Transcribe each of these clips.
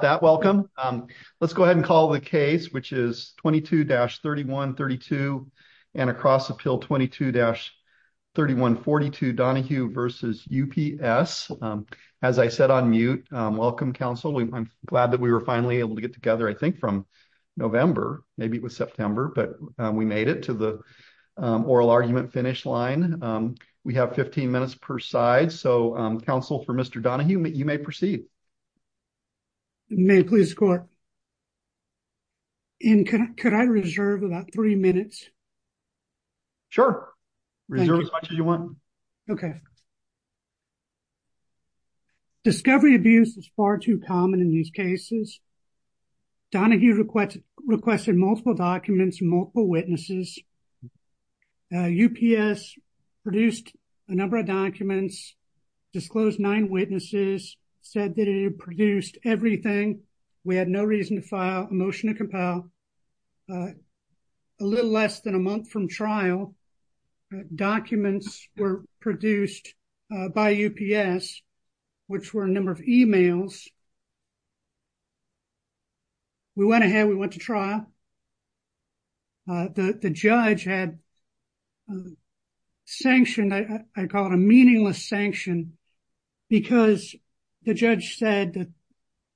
that welcome. Let's go ahead and call the case which is 22-3132 and across the pill 22-3142 Donahue versus UPS. As I said on mute, welcome Council. I'm glad that we were finally able to get together I think from November maybe it was September but we made it to the oral argument finish line. We have 15 minutes per side so Council for Mr. Donahue you may proceed. May please score. And can I reserve about three minutes? Sure, reserve as much as you want. Okay. Discovery abuse is far too common in these cases. Donahue requested multiple documents, multiple witnesses. UPS produced a number of documents, disclosed nine witnesses, said that it produced everything. We had no reason to file a motion to compile. A little less than a month from trial, documents were produced by UPS which were a number of emails. We went ahead, we went to trial. The judge had sanctioned, I call it a meaningless sanction because the judge said that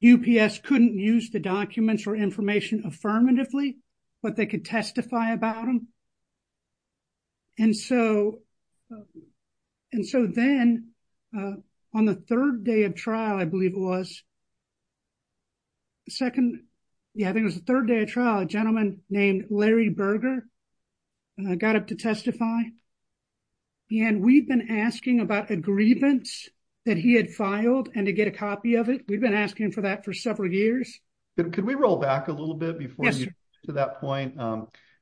UPS couldn't use the documents or information affirmatively but they could testify about them. And so then on the third day of trial I believe it was, second, yeah I think it was the third day of trial, a gentleman named Larry Berger got up to testify and we've been asking about a grievance that he had filed and to get a copy of it. We've been asking for that for several years. Could we roll back a little bit before? To that point,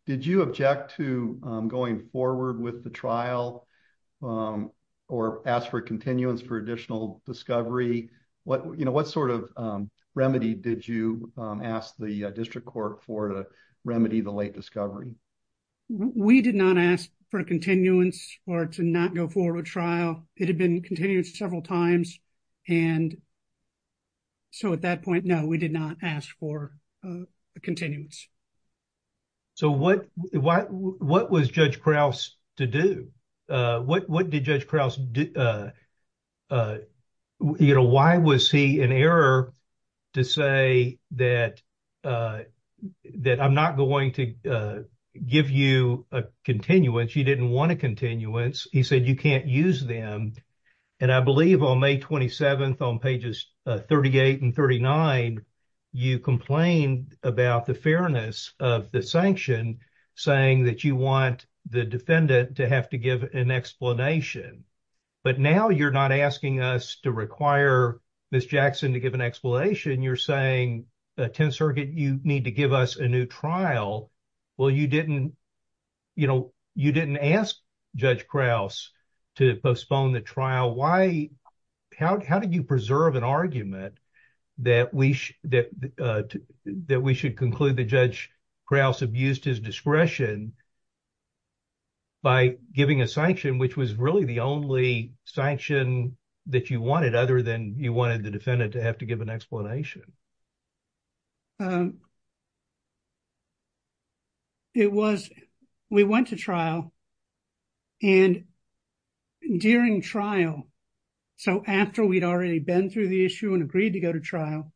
did you object to going forward with the trial or ask for continuance for additional discovery? What sort of remedy did you ask the district court for to remedy the late discovery? We did not ask for continuance or to not go forward with trial. It had been several times and so at that point, no, we did not ask for continuance. So what was Judge Krause to do? What did Judge Krause, why was he in error to say that I'm not going to give you a continuance, you didn't want a continuance, he said you can't use them. And I believe on May 27th on pages 38 and 39, you complained about the fairness of the sanction saying that you want the defendant to have to give an explanation. But now you're not asking us to require Ms. Jackson to give an explanation. You're saying 10th Circuit, you need to give us a new trial. Well, you didn't ask Judge Krause to postpone the trial. How did you preserve an argument that we should conclude that Judge Krause abused his discretion by giving a sanction, which was really the only sanction that you wanted other than you wanted the defendant to have to give an explanation? It was, we went to trial and during trial, so after we'd already been through the issue and agreed to go to trial,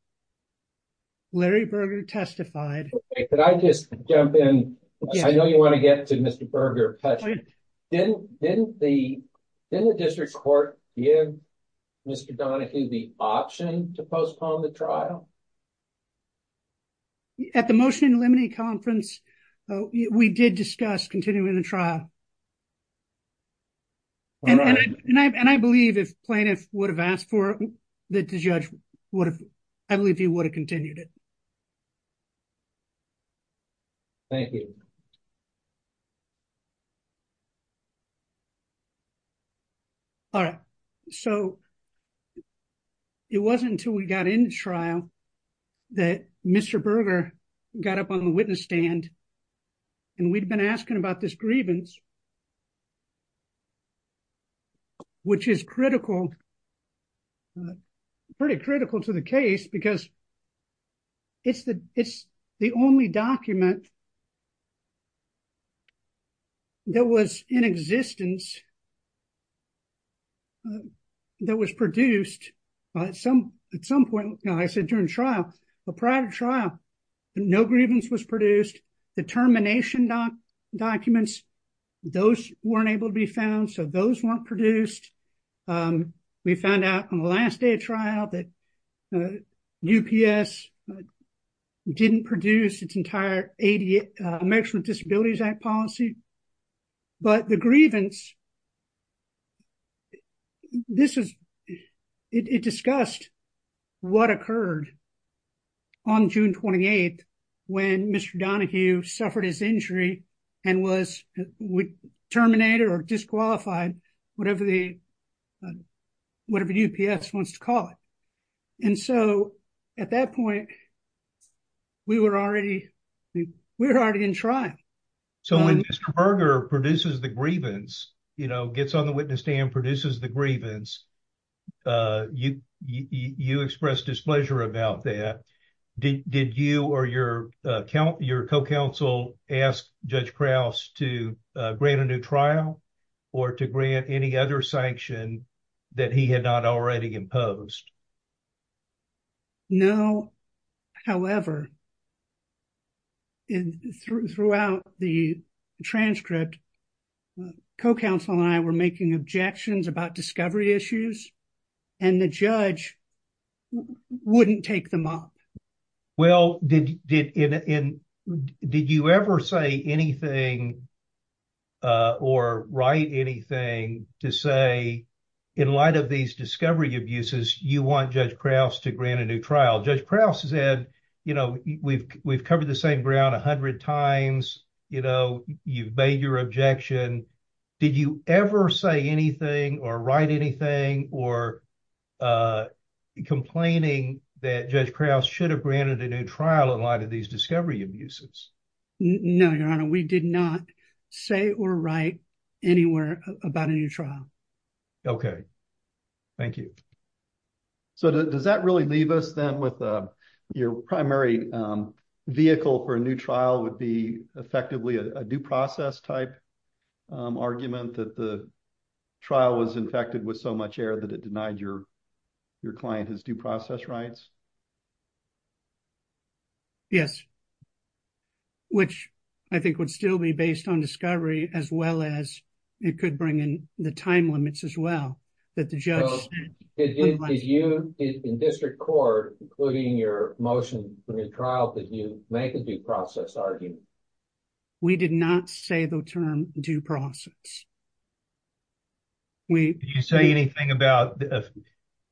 Larry Berger testified. Could I just jump in? I know you want to get to Berger. Didn't the district court give Mr. Donahue the option to postpone the trial? At the motion and lemony conference, we did discuss continuing the trial. And I believe if plaintiff would have asked for it, the judge would have, I believe he would have continued it. Thank you. All right. So it wasn't until we got into trial that Mr. Berger got up on the witness stand and we'd been asking about this grievance, which is critical, pretty critical to the case because it's the, it's the only document that was in existence that was produced at some, at some point, I said during trial, but prior to trial, no grievance was produced. The termination documents, those weren't able to be found. So those weren't produced. We found out on the last day of trial that UPS didn't produce its entire ADA, Americans with Disabilities Act policy, but the grievance, this is, it discussed what occurred on June 28th when Mr. Donahue suffered his injury and was, terminated or disqualified, whatever the, whatever UPS wants to call it. And so at that point, we were already, we were already in trial. So when Mr. Berger produces the grievance, you know, gets on the witness stand, produces the grievance, you expressed displeasure about that. Did you or your co-counsel ask Judge Krauss to grant a new trial or to grant any other sanction that he had not already imposed? No. However, throughout the transcript, co-counsel and I were making objections about discovery issues and the judge wouldn't take them up. Well, did you ever say anything or write anything to say, in light of these discovery abuses, you want Judge Krauss to grant a new trial? Judge Krauss said, you know, we've, we've covered the same ground a hundred times, you know, you've made your objection. Did you ever say anything or write anything or complaining that Judge Krauss should have granted a new trial in light of these discovery abuses? No, Your Honor. We did not say or write anywhere about a new trial. Okay. Thank you. So does that really leave us then with your primary vehicle for a new trial would be effectively a due process type argument that the trial was infected with so much air that it denied your client his due process rights? Yes. Which I think would still be based on discovery as well as it could bring in the time limits as well that the judge. Did you, in district court, including your motion for the trial, did you make a due process argument? We did not say the term due process. Did you say anything about,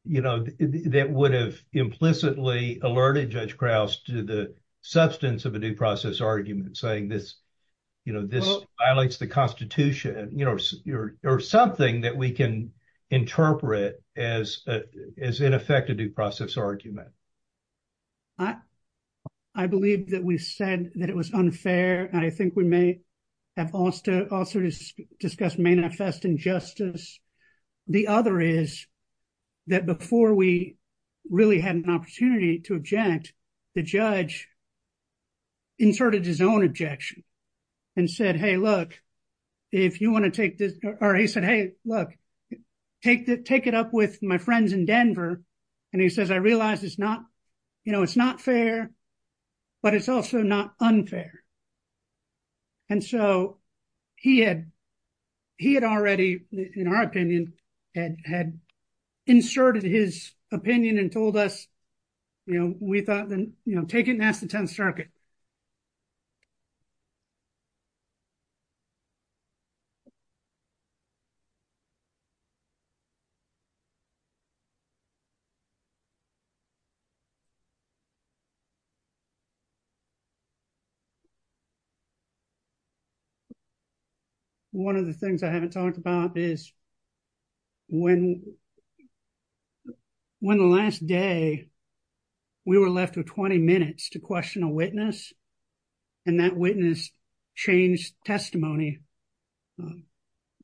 you know, that would have implicitly alerted Judge Krauss to the substance of a due process argument saying this, you know, this violates the constitution, you know, or something that we can interpret as, as in effect a due process argument. I, I believe that we said that it was unfair. And I think we may have also discussed manifest injustice. The other is that before we really had an opportunity to object, the judge inserted his own objection and said, hey, look, if you want to take this, or he said, hey, look, take the, take it up with my friends in Denver. And he says, I realized it's not, you know, it's not fair, but it's also not unfair. And so he had, he had already, in our opinion, had inserted his opinion and told us, you know, we thought then, you know, take it and ask the 10th circuit. One of the things I haven't talked about is when, when the last day we were left with 20 minutes to question a witness and that witness changed testimony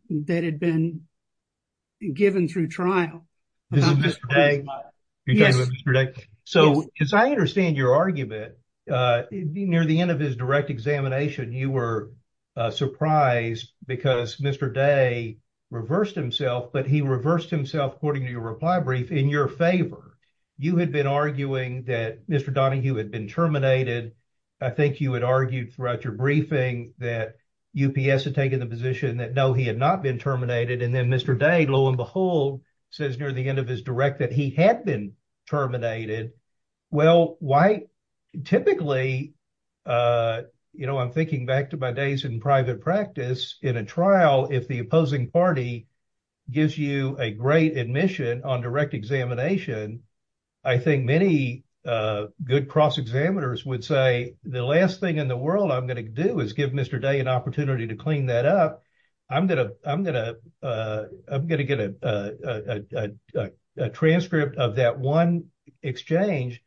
that had been given through trial. This is Mr. Day. So as I understand your argument, near the end of his direct examination, you were surprised because Mr. Day reversed himself, but he reversed himself according to your reply brief in your favor. You had been arguing that Mr. Donahue had been terminated. I think you had argued throughout your briefing that UPS had taken the position that no, he had not been terminated. And then Mr. Day, lo and behold, says near the end of his direct that he had been terminated. Well, why typically, you know, I'm thinking back to my days in private practice in a trial, if the opposing party gives you a great admission on direct examination, I think many good cross-examiners would say, the last thing in the world I'm going to do is give Mr. Day an opportunity to clean that up. I'm going to get a transcript of that one exchange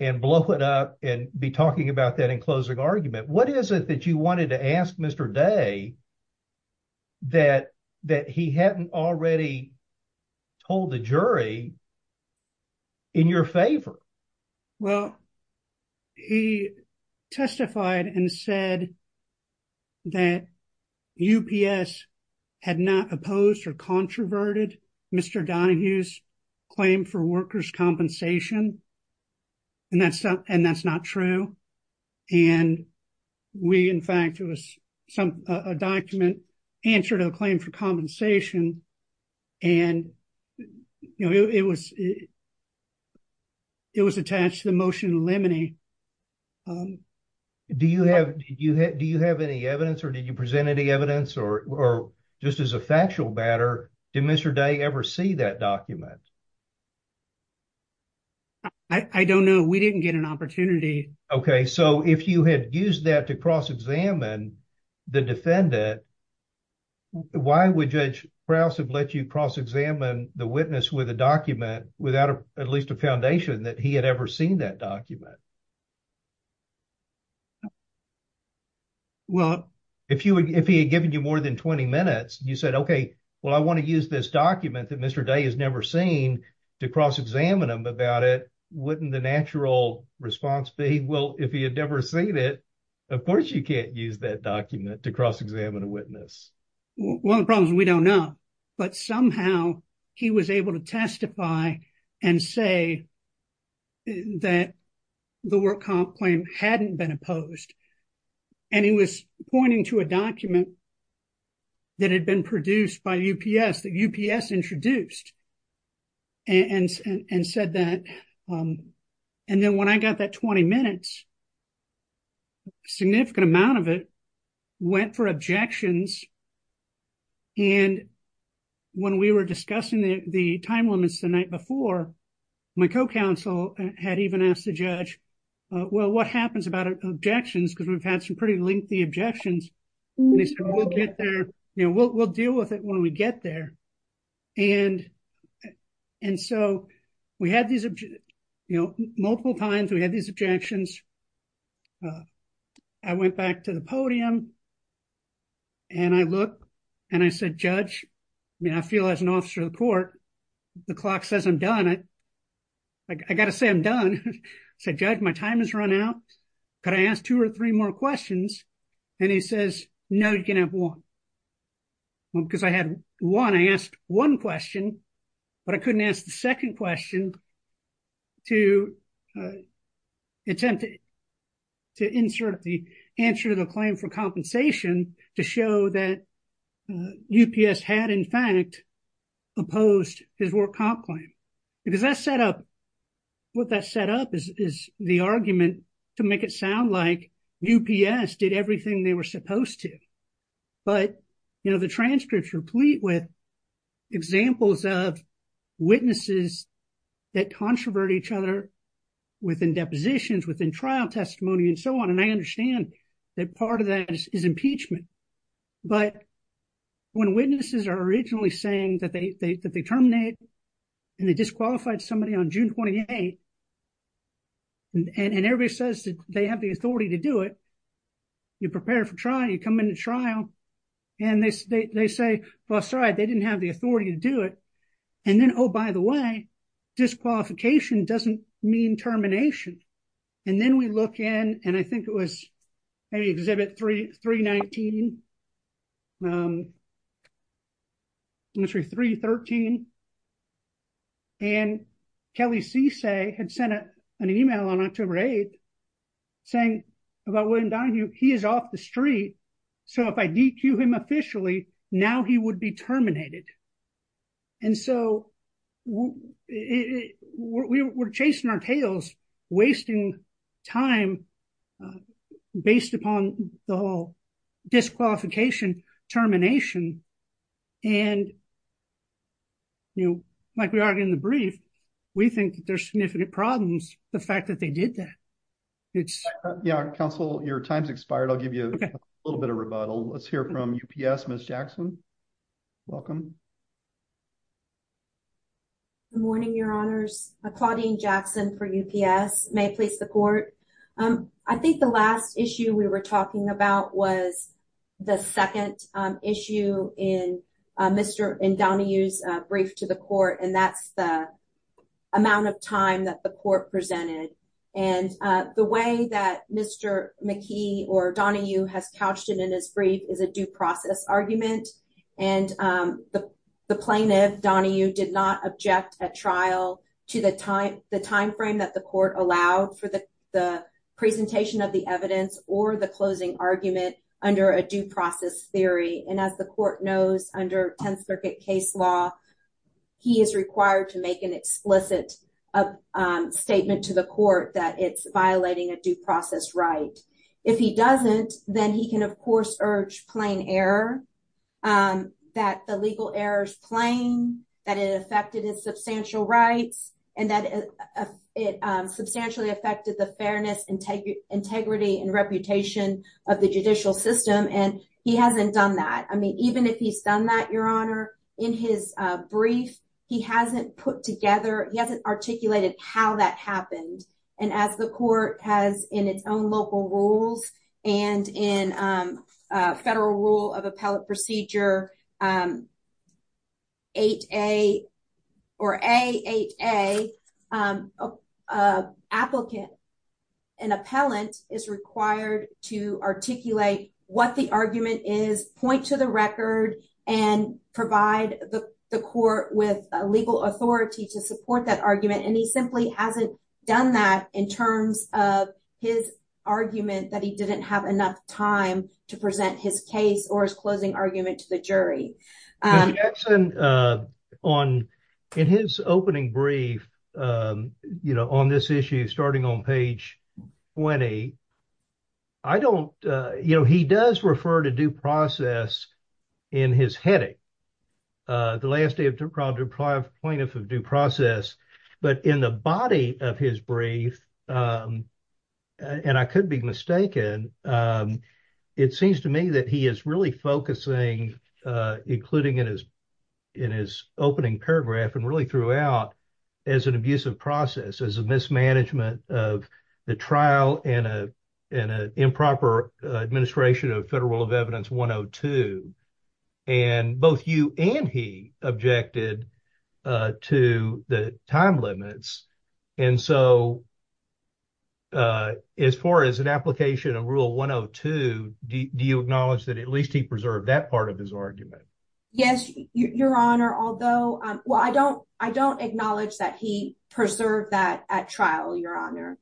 and blow it up and be talking about that in closing argument. What is it that you wanted to ask Mr. Day that he hadn't already told the jury in your favor? Well, he testified and said that UPS had not opposed or controverted Mr. Donahue's claim for workers' compensation. And that's not true. And we, in fact, it was a document, answer to the claim for compensation. And, you know, it was, it was attached to the motion of limine. Do you have, do you have any evidence or did you present any evidence or just as a factual matter, did Mr. Day ever see that document? I don't know. We didn't get an opportunity. Okay. So if you had used that to cross-examine the defendant, why would Judge Krause have let you cross-examine the witness with a document without at least a foundation that he had ever seen that document? Well, if he had given you more than 20 minutes and you said, okay, well, I want to use this document that Mr. Day has never seen to cross-examine him about it, wouldn't the natural response be, well, if he had never seen it, of course you can't use that document to cross-examine a witness. Well, the problem is we don't know, but somehow he was able to testify and say that the work comp claim hadn't been opposed. And he was pointing to a document that had been produced by UPS, that UPS introduced and said that. And then when I got that 20 minutes, significant amount of it went for objections. And when we were discussing the time limits the night before, my co-counsel had even asked the judge, well, what happens about objections? Because we've had some pretty lengthy objections. And he said, we'll deal with it when we get there. And so we had these multiple times, we had these objections. I went back to the podium and I looked and I said, judge, I mean, I feel as an officer of the court, the clock says I'm done. I got to say I'm done. I said, judge, my time has run out. Could I ask two or three more questions? And he says, no, you can have one. Because I had one, I asked one question, but I couldn't ask the second question to attempt to insert the answer to the claim for compensation to show that UPS had in fact opposed his work comp claim. Because what that set up is the argument to make it sound like UPS did everything they were supposed to. But the transcripts replete with examples of witnesses that controvert each other within depositions, within trial testimony and so on. And I understand that part of that is impeachment. But when witnesses are originally saying that they terminate and they disqualified somebody on June 28 and everybody says that they have the authority to do it, you prepare for trial, you come into trial and they say, well, sorry, they didn't have the authority to do it. And then, oh, by the way, disqualification doesn't mean termination. And then we look in and I think it was maybe Exhibit 319, I'm sorry, 313. And Kelly Cisse had sent an email on October 8 saying about William Donahue, he is off the street. So if I DQ him officially, now he would be terminated. And so we're chasing our tails, wasting time based upon the whole disqualification termination. And like we argued in the brief, we think there's significant problems, the fact that they did that. Yeah, counsel, your time's expired. I'll give you a little bit of rebuttal. Let's hear from UPS, Ms. Jackson. Welcome. Good morning, your honors. Claudine Jackson for UPS. May it please the court. I think the last issue we were talking about was the second issue in Donahue's brief to the court and that's the amount of time that the court presented. And the way that Mr. McKee or Donahue has couched it in his brief is a due process argument. And the plaintiff, Donahue, did not object at trial to the timeframe that the court allowed for the presentation of the evidence or the closing argument under a due process theory. And as the court knows under 10th Circuit case law, he is required to make an explicit statement to the court that it's violating a due process right. If he doesn't, then he can, of course, urge plain error, that the legal error's plain, that it affected his substantial rights, and that it substantially affected the fairness, integrity, and reputation of the judicial system. And he hasn't done that. I mean, even if he's done that, your honor, in his brief, he hasn't put together, he hasn't articulated how that happened. And as the court has in its own local rules and in Federal Rule of Appellate Procedure 8A or AHA, an applicant, an appellant is required to articulate what the argument is, point to the record, and provide the court with a legal authority to support that argument. And he simply hasn't done that in terms of his argument that he didn't have enough time to present his case or his closing argument to the jury. Mr. Jackson, on, in his opening brief, you know, on this issue, starting on page 20, I don't, you know, he does refer to due process in his heading. The last day of due process, but in the body of his brief, and I could be mistaken, it seems to me that he is really focusing, including in his, in his opening paragraph, and really throughout, as an abusive process, as a mismanagement of the trial and an improper administration of Federal Rule of Appellate Procedure 102. And both you and he objected to the time limits. And so, as far as an application of Rule 102, do you acknowledge that at least he preserved that part of his argument? Yes, Your Honor, although, well, I don't, I don't acknowledge that he preserved that at trial, Your Honor.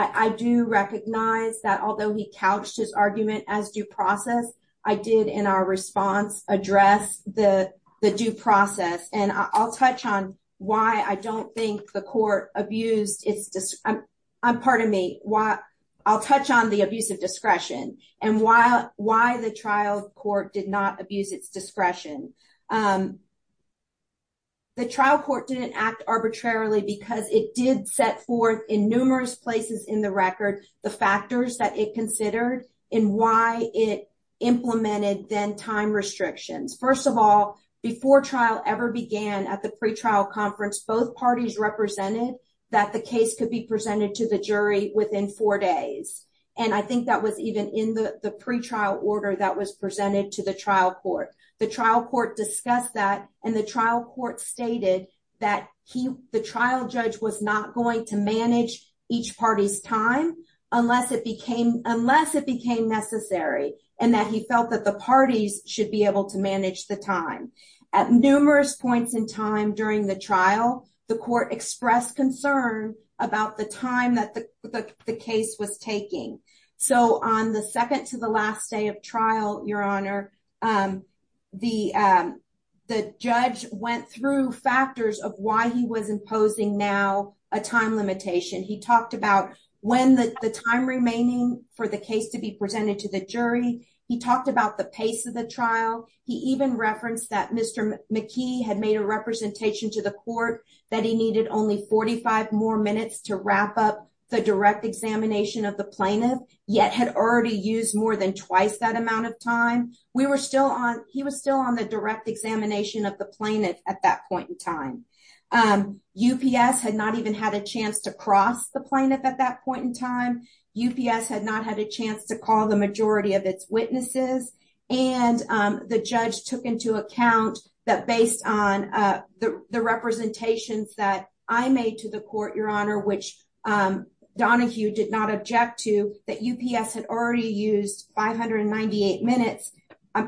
I do recognize that although he couched his argument as due process, I did, in our response, address the due process. And I'll touch on why I don't think the court abused its, pardon me, why, I'll touch on the abuse of discretion and why the trial court did not abuse its discretion. The trial court didn't act arbitrarily because it did set in numerous places in the record, the factors that it considered and why it implemented then time restrictions. First of all, before trial ever began at the pretrial conference, both parties represented that the case could be presented to the jury within four days. And I think that was even in the pretrial order that was presented to the trial court. The trial court discussed that, and the trial court stated that he, the trial judge was not going to manage each party's time unless it became, unless it became necessary and that he felt that the parties should be able to manage the time. At numerous points in time during the trial, the court expressed concern about the time that the case was taking. So on the second to the last day of trial, Your Honor, the judge went through factors of why he was imposing now a time limitation. He talked about when the time remaining for the case to be presented to the jury. He talked about the pace of the trial. He even referenced that Mr. McKee had made a representation to the court that he needed only 45 more minutes to wrap up the direct examination of the plaintiff, yet had already used more than twice that amount of time. We were still on, he was still on the direct examination of the plaintiff at that point in time. UPS had not even had a chance to cross the plaintiff at that point in time. UPS had not had a chance to call the majority of its witnesses. And the judge took into account that based on the representations that I made to the court, which Donahue did not object to, that UPS had already used 598 minutes.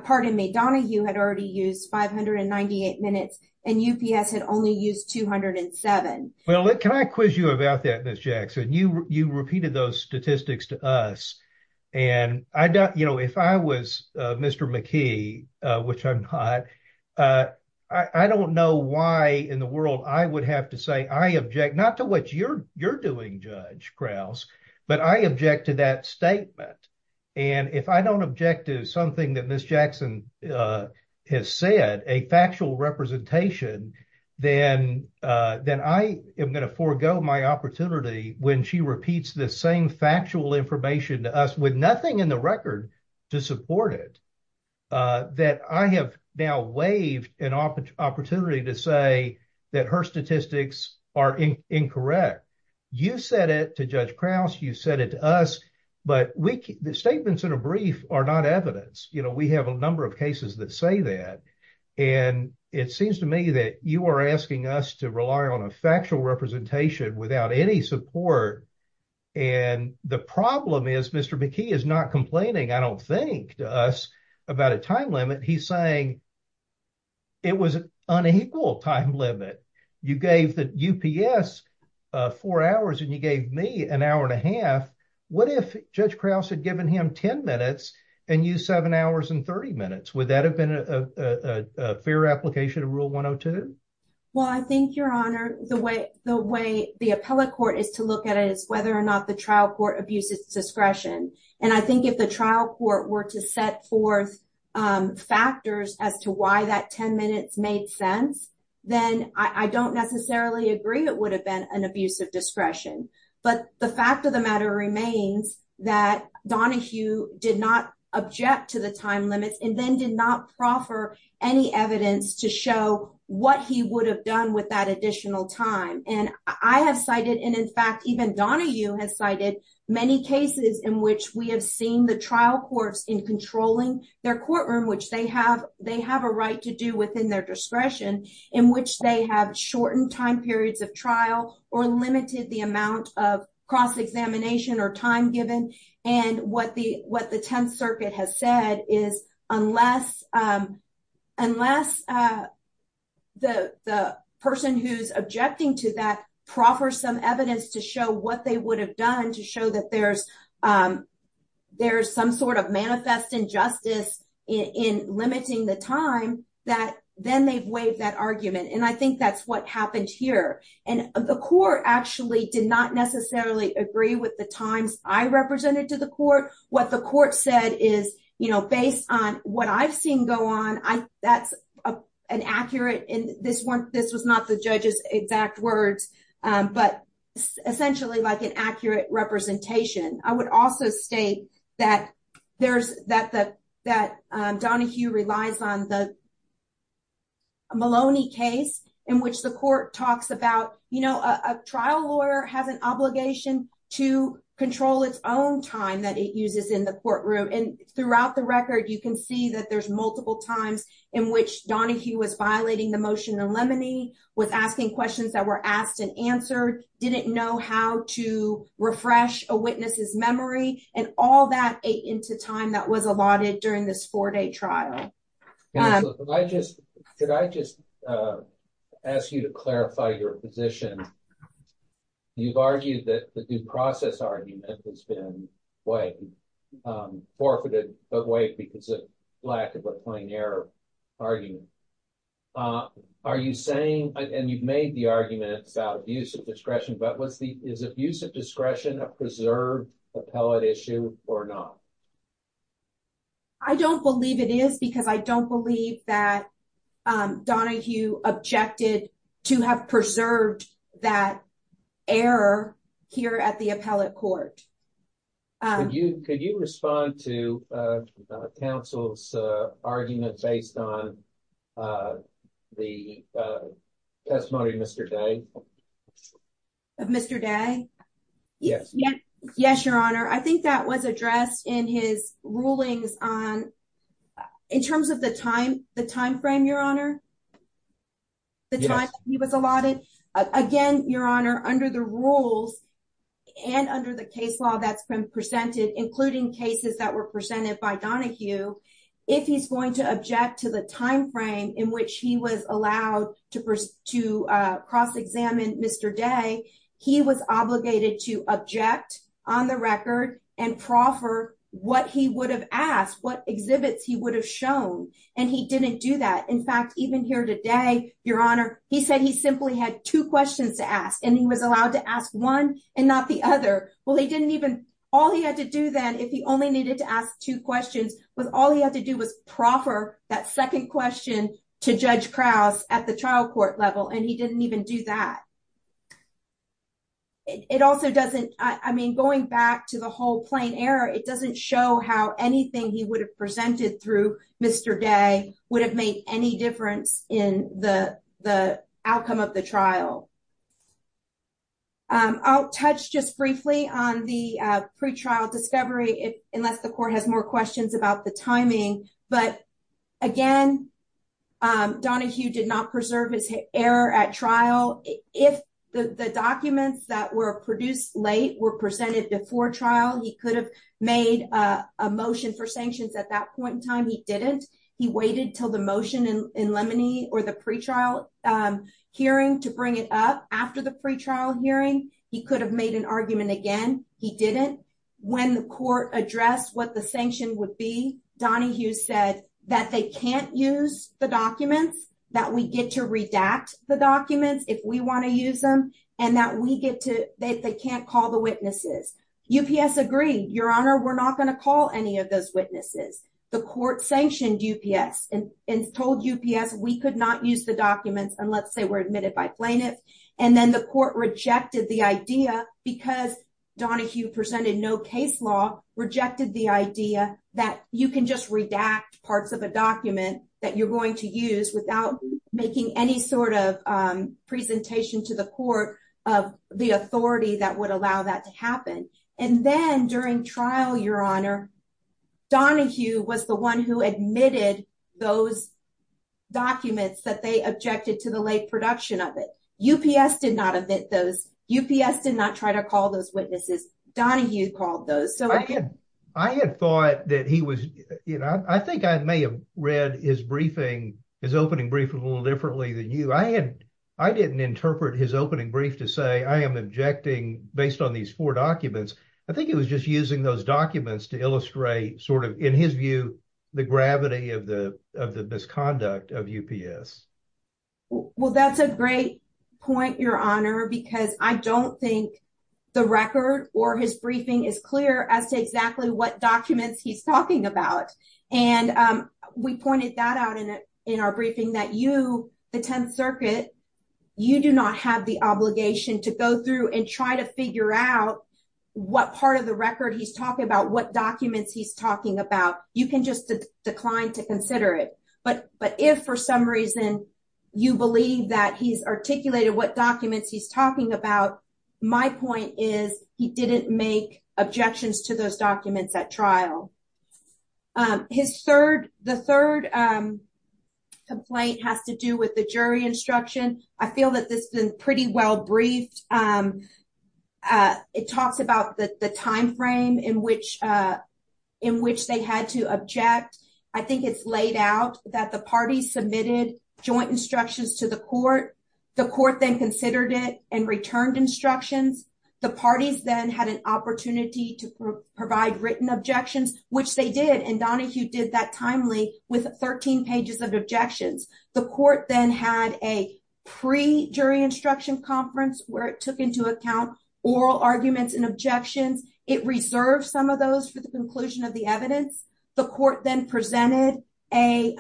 Pardon me, Donahue had already used 598 minutes and UPS had only used 207. Well, can I quiz you about that, Ms. Jackson? You repeated those statistics to us. And if I was Mr. McKee, which I'm not, I don't know why in the world I would have to say I object, not to what you're doing, Judge Krause, but I object to that statement. And if I don't object to something that Ms. Jackson has said, a factual representation, then I am going to forego my opportunity when she repeats the same factual information to us with nothing in the record to support it. That I have now waived an opportunity to say that her statistics are incorrect. You said it to Judge Krause, you said it to us, but the statements in a brief are not evidence. We have a number of cases that say that. And it seems to me that you are asking us to rely on a factual representation without any support. And the problem is Mr. McKee is not complaining, I don't think, to us about a time limit. He's saying it was an unequal time limit. You gave the UPS four hours and you gave me an hour and a half. What if Judge Krause had given him 10 minutes and you seven hours and 30 minutes? Would that have been a fair application of Rule 102? Well, I think, Your Honor, the way the appellate court is to look at it is whether or not the trial court abuses discretion. And I think if the trial court were to set forth factors as to why that 10 minutes made sense, then I don't necessarily agree it would have been an abuse of discretion. But the fact of the matter remains that Donahue did not object to the time limits and then did not proffer any evidence to show what he would have done with that additional time. And I have cited, and in fact, even Donahue has cited, many cases in which we have seen the trial courts in controlling their courtroom, which they have a right to do within their discretion, in which they have shortened time periods of trial or limited the amount of cross-examination or time given. And what the Tenth Circuit has said is unless the person who's objecting to that proffers some evidence to show what they would have done to show that there's some sort of manifest injustice in limiting the time, then they've waived that argument. And I think that's what happened here. And the court actually did not necessarily agree with the times I represented to the court. What the court said is, you know, based on what I've seen go on, that's an accurate, and this was not the judge's exact words, but essentially like an accurate representation. I would also state that Donahue relies on the Maloney case in which the court talks about, you know, a trial lawyer has an obligation to control its own time that it uses in the courtroom. And throughout the record, you can see that there's multiple times in which Donahue was violating the motion in Lemony, was asking questions that were asked and answered, didn't know how to refresh a witness's memory, and all that ate into time that was allotted during this four-day trial. Should I just ask you to clarify your position? You've argued that the due process argument has waived, forfeited, but waived because of lack of a plain error argument. Are you saying, and you've made the argument about abuse of discretion, but is abuse of discretion a preserved appellate issue or not? I don't believe it is because I don't believe that Donahue objected to have preserved that error here at the appellate court. Could you respond to counsel's argument based on the testimony of Mr. Day? Of Mr. Day? Yes. Yes, your honor. I think that was addressed in his rulings on, in terms of the timeframe, your honor, the time he was allotted. Again, your honor, under the rules and under the case law that's been presented, including cases that were presented by Donahue, if he's going to object to the timeframe in which he was allowed to cross-examine Mr. Day, he was obligated to object on the record and proffer what he would have asked, what exhibits he would have shown, and he didn't do that. In fact, even here today, your honor, he said he simply had two questions to ask and he was allowed to ask one and not the other. Well, all he had to do then, if he only needed to ask two questions, was all he had to do was proffer that second question to Judge Krause at the trial court level, and he didn't even do that. It also doesn't, I mean, going back to the whole plain error, it doesn't show how anything he would have presented through Mr. Day would have made any difference in the outcome of the trial. I'll touch just briefly on the pretrial discovery, unless the court has more questions about the timing, but again, Donahue did not preserve his error at trial. If the documents that were produced late were presented before trial, he could have made a motion for sanctions at that point in time. He didn't. He waited until the motion in Lemony or the pretrial hearing to bring it up after the pretrial hearing. He could have made an argument again. He didn't. When the court addressed what the sanction would be, Donahue said that they can't use the documents, that we get to redact the documents if we want to use them, and that they can't call the witnesses. UPS agreed, Your Honor, we're not going to call any of those witnesses. The court sanctioned UPS and told UPS we could not use the documents unless they were admitted by plaintiffs, and then the court rejected the idea because Donahue presented no case law, rejected the idea that you can just redact parts of a document that you're going to use without making any sort of presentation to the court of the authority that would allow that to happen, and then during trial, Your Honor, Donahue was the one who admitted those documents that they objected to the late production of it. UPS did not admit those. UPS did not try to call those witnesses. Donahue called those. I had thought that he was, you know, I think I may have read his briefing, his opening brief, a little differently than you. I didn't interpret his opening brief to say I am objecting based on these four documents. I think it was just using those documents to illustrate in his view the gravity of the misconduct of UPS. Well, that's a great point, Your Honor, because I don't think the record or his briefing is clear as to exactly what documents he's talking about, and we pointed that out in our briefing that you, the Tenth Circuit, you do not have the obligation to go through and try to figure out what part of the record he's talking about, what documents he's talking about. You can just decline to consider it, but if for some reason you believe that he's articulated what documents he's talking about, my point is he didn't make objections to those documents at trial. His third, the third complaint has to do with the jury instruction. I feel that this has been pretty well briefed. It talks about the time frame in which they had to object. I think it's laid out that the parties submitted joint instructions to the court. The court then considered it and returned instructions. The parties then had an opportunity to provide written objections, which they did, and Donahue did that timely with 13 pages of objections. The court then had a pre-jury instruction conference where it took into account oral arguments and objections. It reserved some of those for the conclusion of the evidence. The court then presented a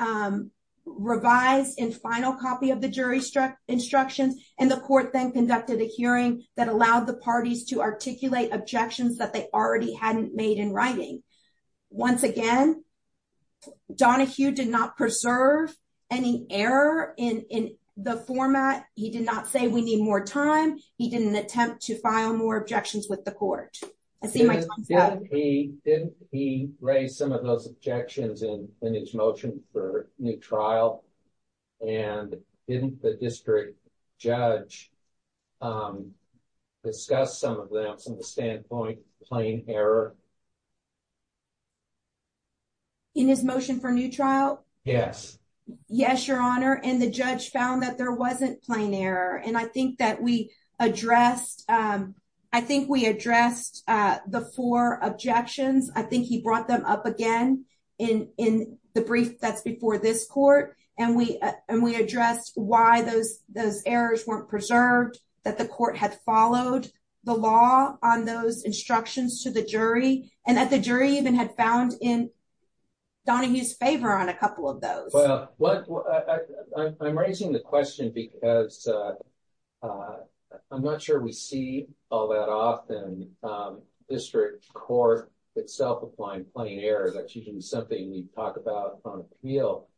revised and final copy of the jury instructions, and the court then conducted a hearing that allowed the parties to articulate objections that they already hadn't made in writing. Once again, Donahue did not preserve any error in the format. He did not say we need more time. He didn't attempt to file more objections with the court. I see my time's up. Didn't he raise some of those objections in his motion for new trial, and didn't the district judge discuss some of them from the standpoint of plain error? In his motion for new trial? Yes. Yes, your honor, and the judge found that there wasn't plain error. I think we addressed the four objections. I think he brought them up again in the brief that's before this court, and we addressed why those errors weren't preserved, that the court had followed the law on those instructions to the jury, and that the jury even had found in Donahue's favor on a couple of those. I'm raising the question because I'm not sure we see all that often district court itself applying plain error. That's usually something we talk about on appeal,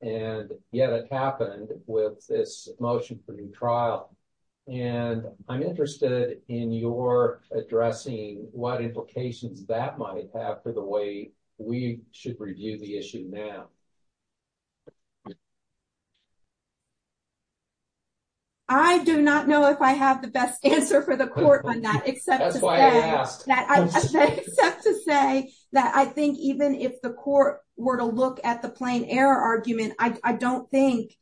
and yet it happened with this motion for new trial. I'm interested in your addressing what implications that might have for the way we should review the issue now. I do not know if I have the best answer for the court on that, except to say that I think even if the court were to look at the plain error argument, I don't think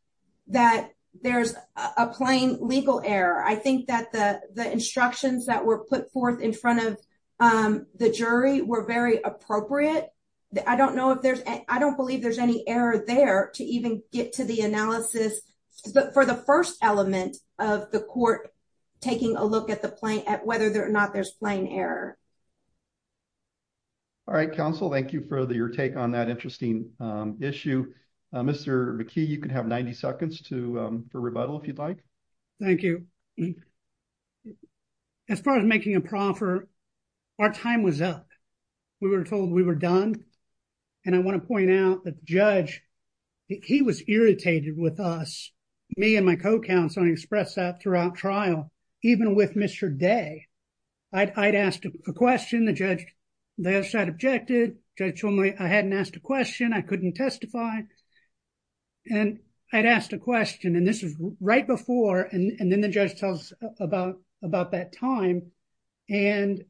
that there's a plain legal error. I think that the instructions that were put forth in front of the jury were very appropriate. I don't believe there's any error there to even get to the analysis for the first element of the court taking a look at whether or not there's plain error. All right, counsel, thank you for your take on that interesting issue. Mr. McKee, you can have 90 seconds for rebuttal if you'd like. Thank you. As far as making a proffer, our time was up. We were told we were done, and I want to point out that the judge, he was irritated with us, me and my co-counsel, and he expressed that throughout trial, even with Mr. Day. I'd asked a question, the judge had objected. Judge told me I hadn't asked a question, I couldn't testify. And I'd asked a question, and this was right before, and then the judge tells us about that time. And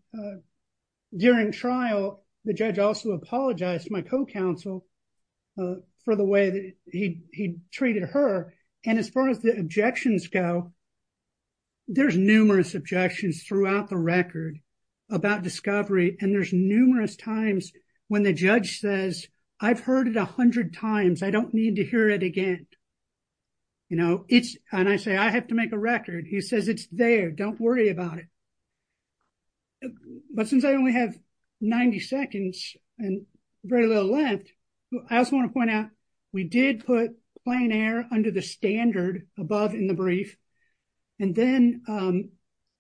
during trial, the judge also apologized to my co-counsel for the way that he treated her. And as far as the objections go, there's numerous objections throughout the record about discovery, and there's numerous times when the judge says, I've heard it 100 times, I don't need to hear it again. And I say, I have to make a record. He says, it's there, don't worry about it. But since I only have 90 seconds and very little left, I also want to point out, we did put plain error under the standard above in the brief. And then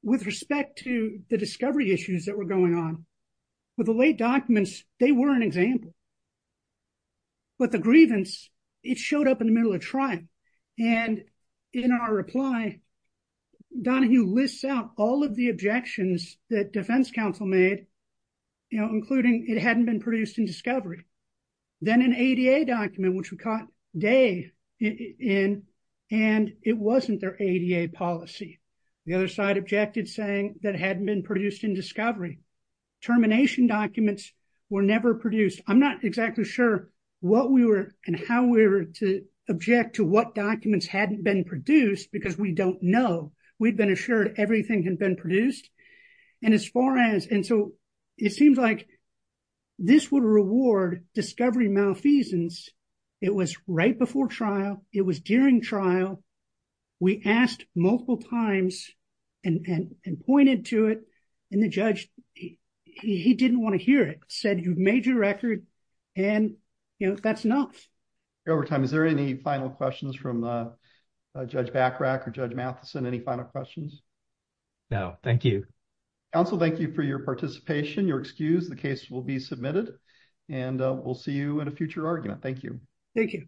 with respect to the discovery issues that were going on, with the late documents, they were an example. But the grievance, it showed up in the middle of trial. And in our reply, Donahue lists out all of the objections that defense counsel made, including it hadn't been produced in discovery. Then an ADA document, which we caught Day in, and it wasn't their ADA policy. The other side objected saying that hadn't been produced in discovery. Termination documents were never produced. I'm not exactly sure what we were and how we were to object to what documents hadn't been produced, because we don't know. We've been assured everything had been produced. And so it seems like this would reward discovery malfeasance. It was right before trial. It was during trial. We asked multiple times and pointed to it. And the judge, he didn't want to hear it, said, you've made your record and that's enough. Over time, is there any final questions from Judge Bachrach or Judge Matheson? Any final questions? No, thank you. Counsel, thank you for your participation. You're excused. The case will be submitted and we'll see you at a future argument. Thank you.